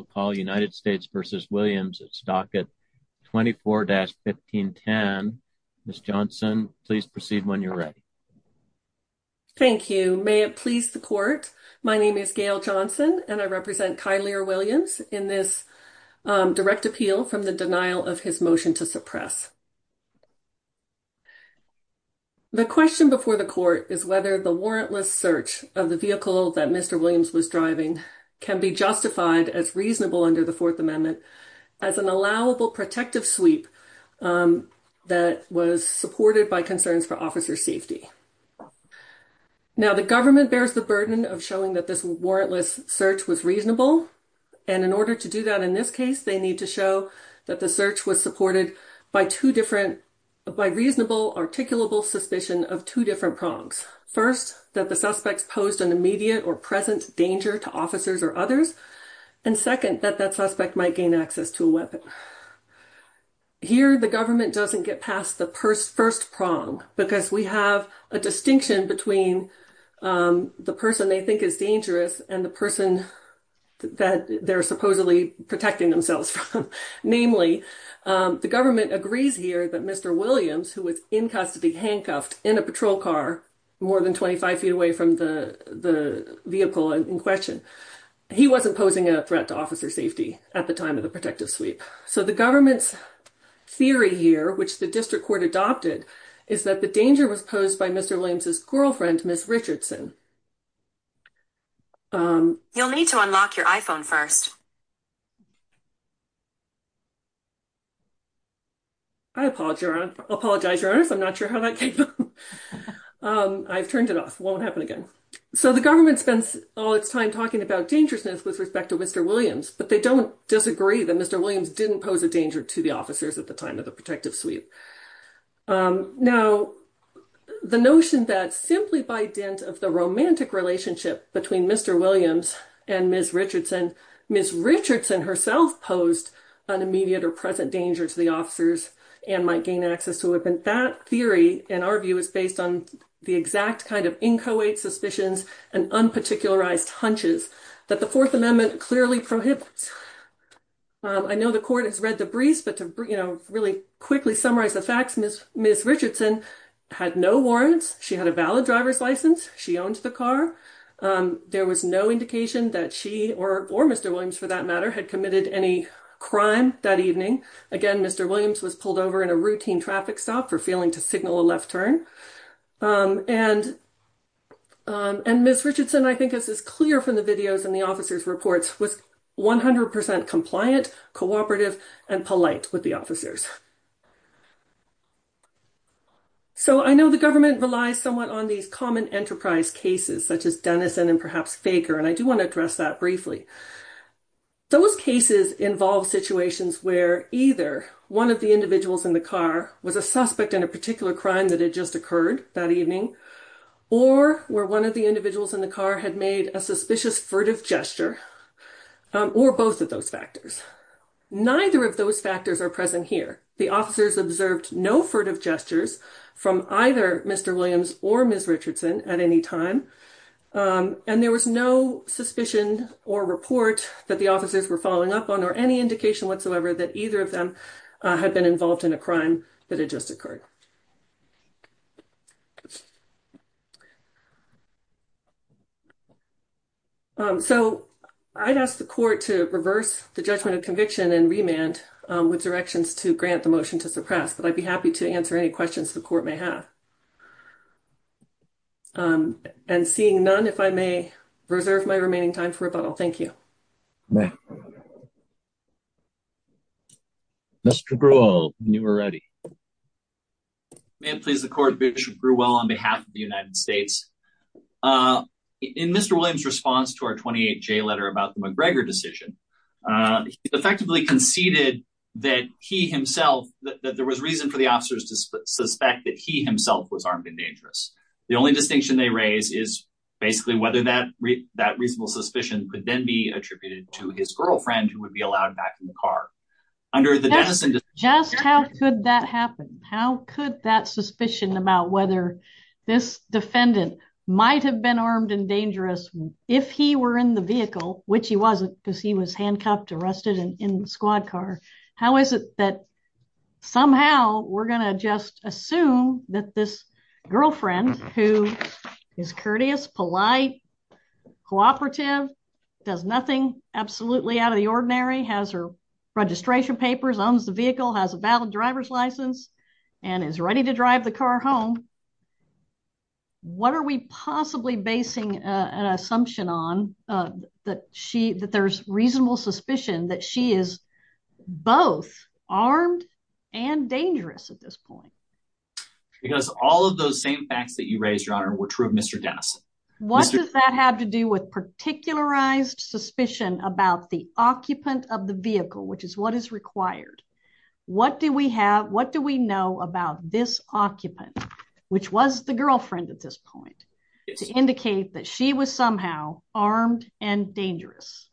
at Stockett 24-1510. Ms. Johnson, please proceed when you're ready. Thank you. May it please the Court, my name is Gail Johnson and I represent Kylear Williams in this direct appeal from the denial of his motion to suppress. The question before the Court is whether the warrantless search of the vehicle that Mr. Williams was driving can be justified as reasonable under the Fourth Amendment as an allowable protective sweep that was supported by concerns for officer safety. Now the government bears the burden of showing that this warrantless search was reasonable and in order to do that in this case they need to show that the search was supported by two different, by reasonable articulable suspicion of two different prongs. First, that the suspects posed an immediate or present danger to officers or others. And second, that that suspect might gain access to a weapon. Here the government doesn't get past the first prong because we have a distinction between the person they think is dangerous and the person that they're supposedly protecting themselves from. Namely, the government agrees here that Mr. Williams, who was in custody, handcuffed in a patrol car more than 25 feet away from the the vehicle in question, he wasn't posing a threat to officer safety at the time of the protective sweep. So the government's theory here, which the district court adopted, is that the danger was posed by Mr. Williams's girlfriend, Ms. Richardson. You'll need to unlock your iPhone first. I apologize, Your Honor. I'm not sure how that came. I've turned it off. Won't happen again. So the government spends all its time talking about dangerousness with respect to Mr. Williams, but they don't disagree that Mr. Williams didn't pose a danger to the officers at the time of the protective sweep. Now, the notion that simply by dint of the romantic relationship between Mr. Williams and Ms. Richardson herself posed an immediate or present danger to the officers and might gain access to it. That theory, in our view, is based on the exact kind of inchoate suspicions and unparticularized hunches that the Fourth Amendment clearly prohibits. I know the court has read the briefs, but to really quickly summarize the facts, Ms. Richardson had no warrants. She had a valid driver's license. She owned the car. There was no indication that she or Mr. Williams, for that matter, had committed any crime that evening. Again, Mr. Williams was pulled over in a routine traffic stop for failing to signal a left turn. And Ms. Richardson, I think this is clear from the videos and the officers' reports, was 100% compliant, cooperative, and polite with the officers. So, I know the government relies somewhat on these common enterprise cases such as Denison and perhaps Faker, and I do want to address that briefly. Those cases involve situations where either one of the individuals in the car was a suspect in a particular crime that had just occurred that evening, or where one of the individuals in the car had made a suspicious furtive gesture, or both of those factors. Neither of those factors are present here. The officers observed no furtive gestures from either Mr. Williams or Ms. Richardson at any time, and there was no suspicion or report that the officers were following up on, or any indication whatsoever that either of them had been involved in a crime that had just occurred. So, I'd ask the court to reverse the judgment of conviction and remand with directions to grant the motion to suppress, but I'd be happy to answer any questions the court may have. And seeing none, if I may reserve my remaining time for rebuttal. Thank you. Mr. Brewell, when you are ready. May it please the court, Bishop Brewell on behalf of the United States. In Mr. Williams' response to our 28J letter about the McGregor decision, he effectively conceded that he himself, that there was reason for the officers to suspect that he himself was armed and dangerous. The only distinction they raise is basically whether that reasonable suspicion could then be attributed to his girlfriend, who would be allowed back in the car. Just how could that happen? How could that suspicion about whether this defendant might have been armed and dangerous, if he were in the vehicle, which he wasn't because he was handcuffed, arrested, and in the squad car. How is it that somehow we're going to just assume that this girlfriend, who is courteous, polite, cooperative, does nothing absolutely out of the ordinary, has her registration papers, owns the vehicle, has a valid driver's license, and is ready to drive the car home. What are we possibly basing an assumption on, that there's reasonable suspicion that she is both armed and dangerous at this point? Because all of those same facts that you raised, Your Honor, were true of Mr. Dennis. What does that have to do with particularized suspicion about the occupant of the vehicle, which is what is required? What do we have, what do we know about this occupant, which was the girlfriend at this point, to indicate that she was somehow armed and dangerous?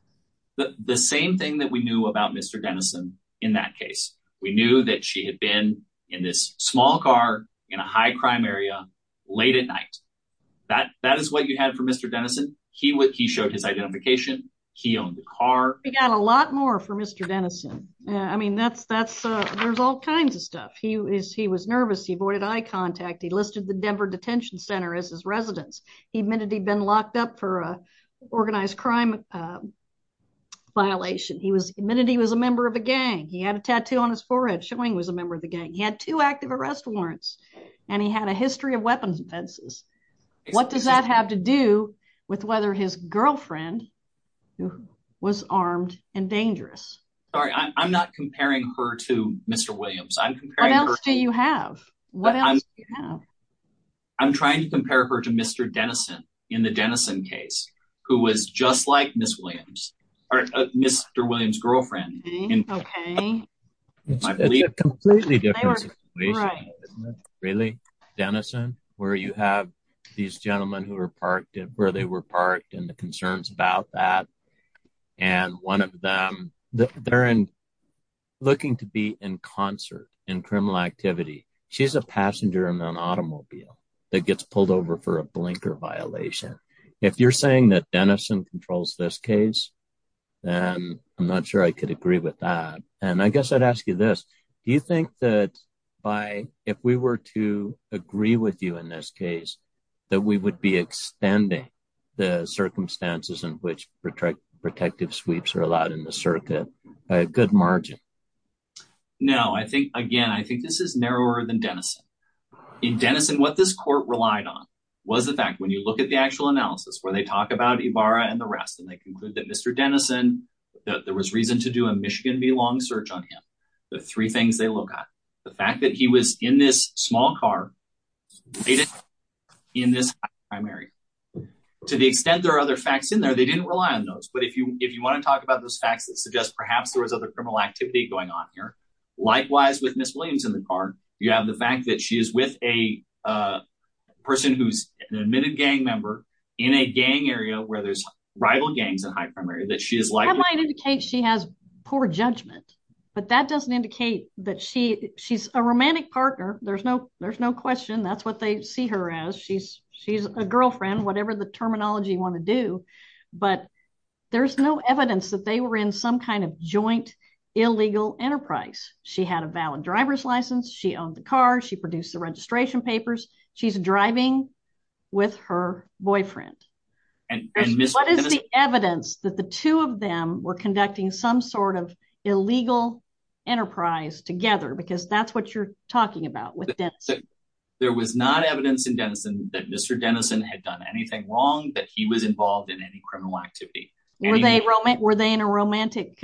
The same thing that we knew about Mr. Dennison in that case. We knew that she had been in this small car in a high crime area late at night. That is what you had for Mr. Dennison. He showed his identification, he owned the car. We got a lot more for Mr. Dennison. I mean, there's all kinds of stuff. He was nervous, he avoided eye contact, he listed the Denver Detention Center as his residence, he admitted he'd been locked up for an organized crime violation, he admitted he was a member of a gang, he had a tattoo on his forehead showing he was a member of the gang, he had two active arrest warrants, and he had a history of weapons offenses. What does that have to do with whether his girlfriend was armed and dangerous? Sorry, I'm not comparing her to Mr. Williams. What else do you have? I'm trying to compare her to Mr. Dennison in the Dennison case, who was just like Ms. Williams, or Mr. Williams' girlfriend. Okay. It's a completely different situation, really. Dennison, where you have these gentlemen who were parked and where they were parked and the concerns about that, and one of them, they're looking to be in concert in criminal activity. She's a passenger in an automobile that gets pulled over for a blinker violation. If you're saying that Dennison controls this case, then I'm not sure I could agree with that. And I guess I'd ask you this, do you think that if we were to agree with you in this case, that we would be extending the circumstances in which protective sweeps are allowed in the circuit by a good margin? No, I think, again, I think this is narrower than Dennison. In Dennison, what this court relied on was the fact when you look at the actual analysis, where they talk about Ibarra and the rest, and they the three things they look at. The fact that he was in this small car in this primary. To the extent there are other facts in there, they didn't rely on those. But if you want to talk about those facts that suggest perhaps there was other criminal activity going on here, likewise with Ms. Williams in the car, you have the fact that she is with a person who's an admitted gang member in a gang area where there's rival gangs in high primary. That might indicate she has poor judgment, but that doesn't indicate that she she's a romantic partner. There's no there's no question that's what they see her as. She's she's a girlfriend, whatever the terminology want to do. But there's no evidence that they were in some kind of joint illegal enterprise. She had a valid driver's license. She owned the car. She produced the registration papers. She's driving with her boyfriend. What is the evidence that the two of them were conducting some sort of illegal enterprise together? Because that's what you're talking about with Dennison. There was not evidence in Dennison that Mr. Dennison had done anything wrong, that he was involved in any criminal activity. Were they in a romantic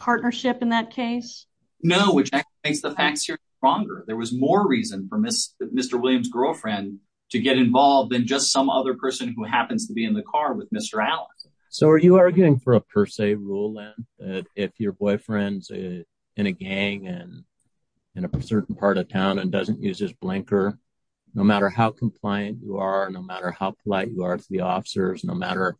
partnership in that case? No, which makes the facts here stronger. There was more reason for Mr. Williams' girlfriend to get involved than just some other person who happens to be in the car with Mr. Allen. So are you arguing for a per se rule that if your boyfriend's in a gang and in a certain part of town and doesn't use his blinker, no matter how compliant you are, no matter how polite you are to the officers, no matter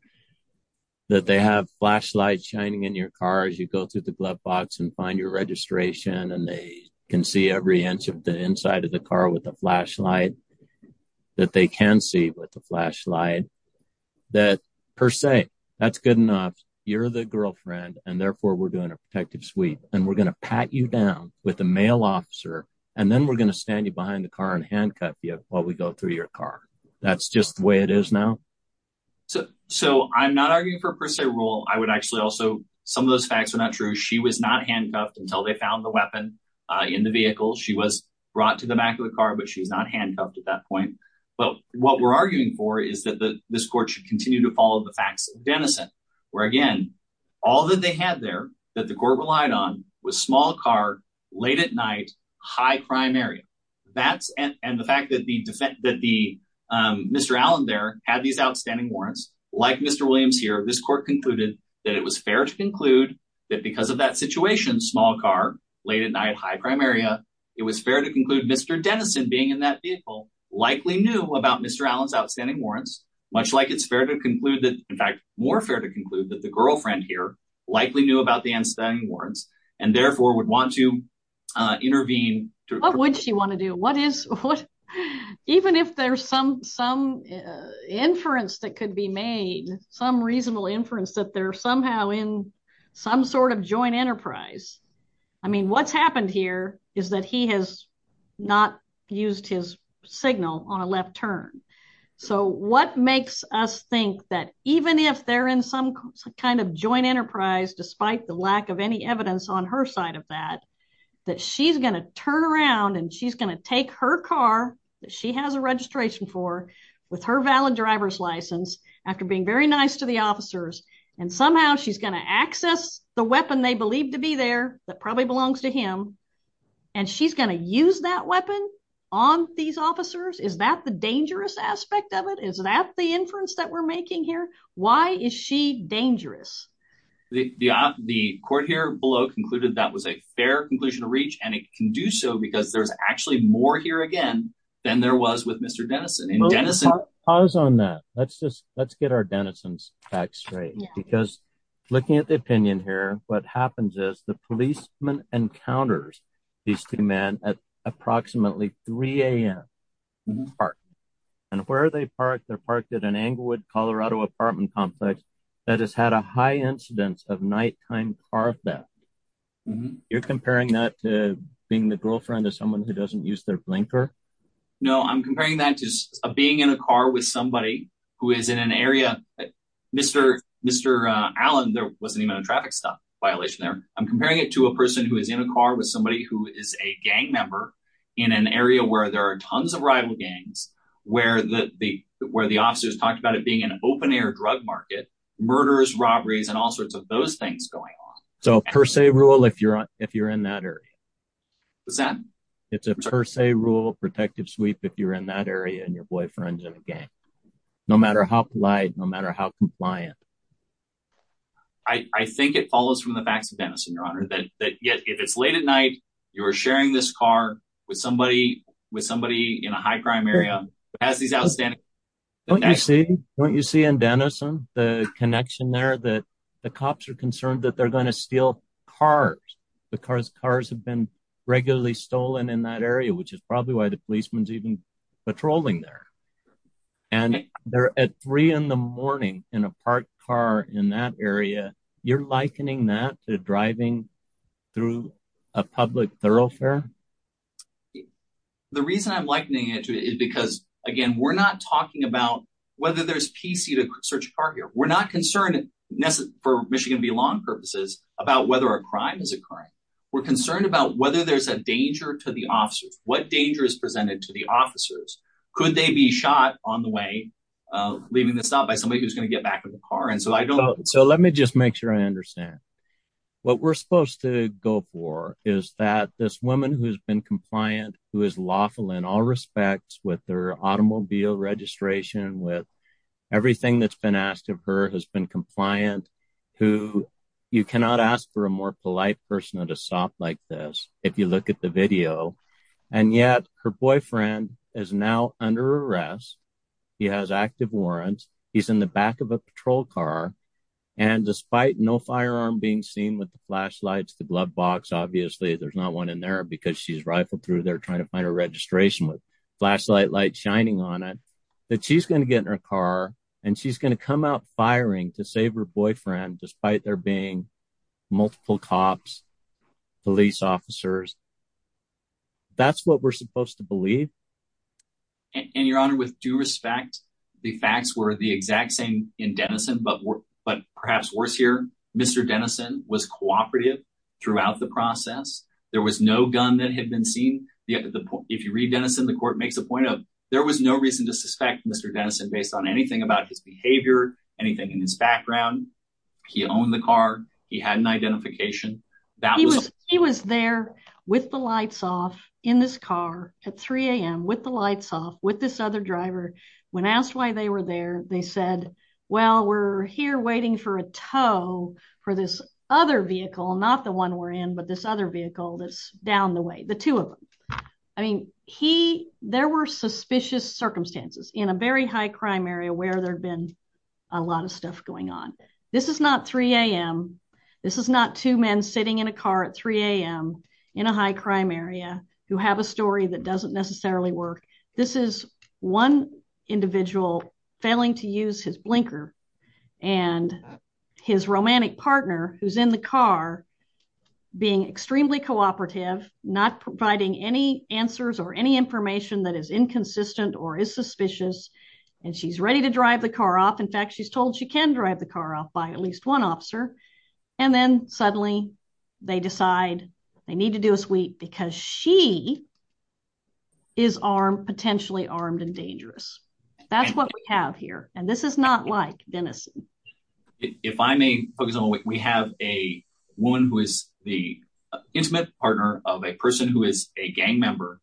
that they have flashlights shining in your car as you go through the glove box and find your registration and they can see every inch of the inside of the car with the flashlight, that they can see with the flashlight, that per se, that's good enough. You're the girlfriend and therefore we're doing a protective suite and we're going to pat you down with a male officer and then we're going to stand you behind the car and handcuff you while we go through your car. That's just the way it is now? So I'm not arguing for a per se rule. I would argue that she was not handcuffed until they found the weapon in the vehicle. She was brought to the back of the car, but she's not handcuffed at that point. But what we're arguing for is that this court should continue to follow the facts of Denison, where again, all that they had there that the court relied on was small car, late at night, high crime area. And the fact that Mr. Allen there had these outstanding warrants, like Mr. Williams here, this court concluded that it was fair to conclude that because of that situation, small car, late at night, high crime area, it was fair to conclude Mr. Denison being in that vehicle likely knew about Mr. Allen's outstanding warrants, much like it's fair to conclude that, in fact, more fair to conclude that the girlfriend here likely knew about the outstanding warrants and therefore would want to intervene. What would she want to do? Even if there's some inference that could be made, some reasonable inference that they're somehow in some sort of joint enterprise. I mean, what's happened here is that he has not used his signal on a left turn. So what makes us think that even if they're in some kind of joint enterprise, despite the lack of any evidence on her side of that, that she's going to turn around and she's going to take her car that she has a registration for with her valid driver's license after being very nice to the officers and somehow she's going to access the weapon they believe to be there that probably belongs to him and she's going to use that weapon on these officers? Is that the dangerous aspect of it? Is that the inference that we're making here? Why is she dangerous? The court here below concluded that was a fair conclusion to reach and it can do so because there's actually more here again than there was Mr. Dennison. Pause on that. Let's get our Dennison's facts straight because looking at the opinion here, what happens is the policeman encounters these two men at approximately 3 a.m. and where are they parked? They're parked at an Englewood, Colorado apartment complex that has had a high incidence of nighttime car theft. You're comparing that to being the in a car with somebody who is in an area, Mr. Allen, there wasn't even a traffic stop violation there. I'm comparing it to a person who is in a car with somebody who is a gang member in an area where there are tons of rival gangs, where the officers talked about it being an open-air drug market, murderers, robberies, and all sorts of those things going on. So per se rule if you're in that area. What's that? It's a per se rule protective sweep if you're in that area and your boyfriend's in a gang. No matter how polite, no matter how compliant. I think it follows from the facts of Dennison, your honor, that yet if it's late at night, you're sharing this car with somebody in a high crime area, has these outstanding... Don't you see in Dennison the connection there that the cops are concerned that they're going to steal cars because cars have been regularly stolen in that area, which is probably why the policeman's even patrolling there. And they're at three in the morning in a parked car in that area. You're likening that to driving through a public thoroughfare? The reason I'm likening it to it is again, we're not talking about whether there's PC to search a car here. We're not concerned for Michigan belong purposes about whether a crime is occurring. We're concerned about whether there's a danger to the officers. What danger is presented to the officers? Could they be shot on the way leaving the stop by somebody who's going to get back in the car? So let me just make sure I understand. What we're supposed to go for is that this woman who's been compliant, who is in all respects with their automobile registration, with everything that's been asked of her has been compliant, who you cannot ask for a more polite person at a stop like this if you look at the video. And yet her boyfriend is now under arrest. He has active warrants. He's in the back of a patrol car. And despite no firearm being seen with the flashlights, the glove box, obviously there's not one in there because she's rifled through. They're trying to find a registration with flashlight light shining on it that she's going to get in her car and she's going to come out firing to save her boyfriend despite there being multiple cops, police officers. That's what we're supposed to believe. And your honor, with due respect, the facts were the exact same in Denison, but perhaps worse here. Mr. Denison was cooperative throughout the process. There was no gun that had been seen. If you read Denison, the court makes the point of there was no reason to suspect Mr. Denison based on anything about his behavior, anything in his background. He owned the car. He had an identification. He was there with the lights off in this car at 3 a.m. with the lights off with this other driver. When asked why they were there, they said, well, we're here waiting for a tow for this other vehicle, not the one we're in, but this other vehicle that's down the way, the two of them. I mean, there were suspicious circumstances in a very high crime area where there'd been a lot of stuff going on. This is not 3 a.m. This is not two men sitting in a car at 3 a.m. in a high crime area who have a story that doesn't necessarily work. This is one individual failing to use his blinker and his romantic partner who's in the car being extremely cooperative, not providing any answers or any information that is inconsistent or is suspicious, and she's ready to drive the car off. In fact, she's told she can drive the car off by at least one officer, and then suddenly they decide they need to do a sweep because she is potentially armed and dangerous. That's what we have here, and this is not like Denison. If I may focus on, we have a woman who is the intimate partner of a person who is a gang member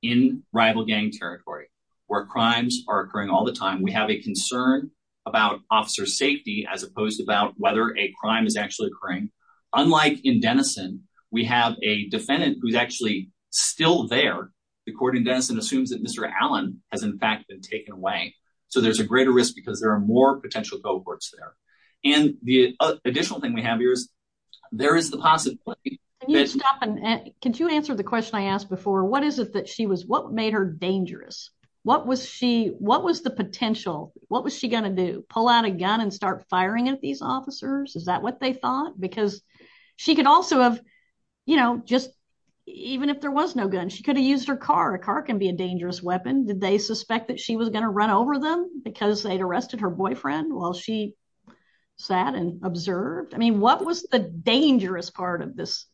in rival gang territory where crimes are occurring all the time. We have a concern about officer safety as opposed to about whether a crime is actually occurring. Unlike in Denison, we have a defendant who's actually still there. The court in Denison assumes that Mr. Allen has in fact been taken away, so there's a greater risk because there are more potential cohorts there, and the additional thing we have here is there is the possibility. Can you answer the question I asked before? What made her dangerous? What was the potential? What was she going to do? Pull out a gun and start firing at these officers? Is that what they thought? She could also have, even if there was no gun, she could have used her car. A car can be a dangerous weapon. Did they suspect that she was going to run over them because they'd arrested her boyfriend while she sat and observed? What was the dangerous part of this?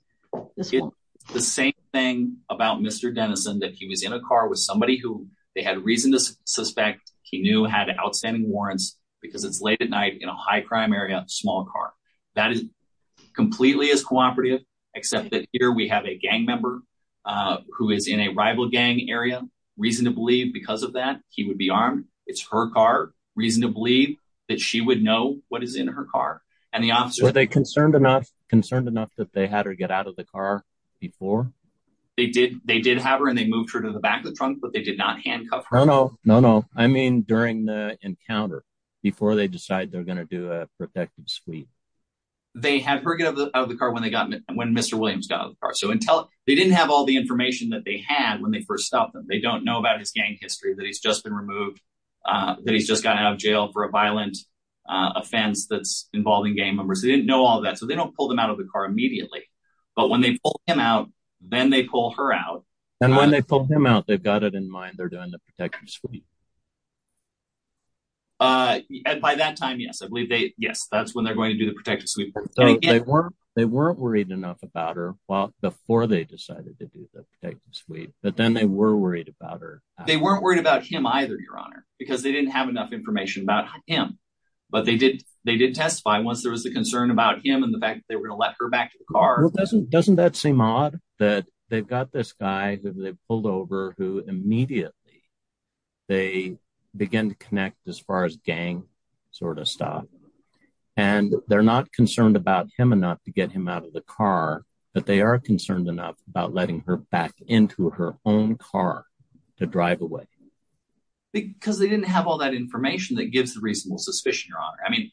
The same thing about Mr. Denison that he was in a car with somebody who they had reason to suspect he knew had outstanding warrants because it's late at night in a high crime area, small car. That is completely as cooperative, except that here we have a gang member who is in a rival gang area. Reason to believe because of that, he would be armed. It's her car. Reason to believe that she would know what is in her car. Were they concerned enough that they had her get out of the car before? They did have her and they moved her to the back of the trunk, but they did not handcuff her. No, no. I mean during the encounter, before they decide they're going to do a protective sweep. They had her get out of the car when Mr. Williams got out of the car, so they didn't have all the information that they had when they first stopped them. They don't know about his gang history, that he's just been removed, that he's just gotten out of jail for a violent offense that's involving gang members. They didn't know all that, so they don't pull them out of the car immediately, but when they pull him out, then they pull her out. And when they pull him out, they've got it in mind they're doing the protective sweep. By that time, yes, I believe they, yes, that's when they're going to do the protective sweep. They weren't worried enough about her well before they decided to do the protective sweep, but then they were worried about her. They weren't worried about him either, your honor, because they didn't have enough information about him, but they did testify once there was the concern about him and the fact they were going to let her back to the car. Doesn't that seem odd that they've got this guy who they pulled who immediately they begin to connect as far as gang sort of stuff, and they're not concerned about him enough to get him out of the car, but they are concerned enough about letting her back into her own car to drive away? Because they didn't have all that information that gives the reasonable suspicion, your honor. I mean,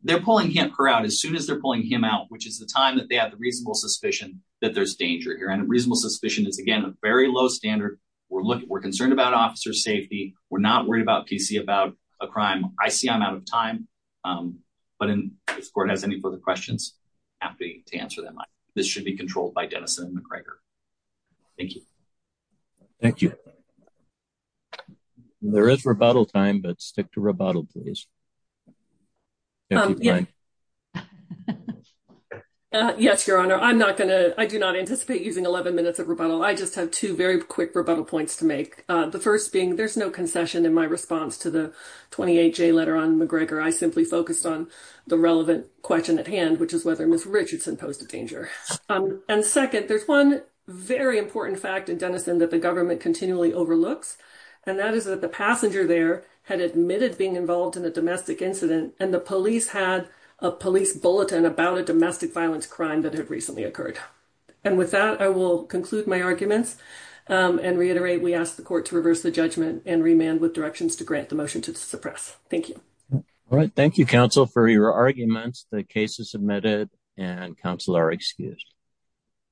they're pulling her out as soon as they're pulling him out, which is the time that they have the reasonable suspicion that there's danger here, reasonable suspicion is, again, a very low standard. We're concerned about officer safety. We're not worried about PC about a crime. I see I'm out of time, but if the court has any further questions, I'm happy to answer them. This should be controlled by Denison and McGregor. Thank you. Thank you. There is rebuttal time, but stick to rebuttal, please. Yeah. Yes, your honor, I'm not going to. I do not anticipate using 11 minutes of rebuttal. I just have two very quick rebuttal points to make. The first being there's no concession in my response to the 28 J letter on McGregor. I simply focused on the relevant question at hand, which is whether Miss Richardson posed a danger. And second, there's one very important fact in Denison that the government continually overlooks, and that is that the passenger there had admitted being involved in a domestic incident, and the police had a police bulletin about a domestic violence crime that had recently occurred. And with that, I will conclude my arguments and reiterate we ask the court to reverse the judgment and remand with directions to grant the motion to suppress. Thank you. All right. Thank you, counsel, for your arguments. The case is submitted, and counsel are excused.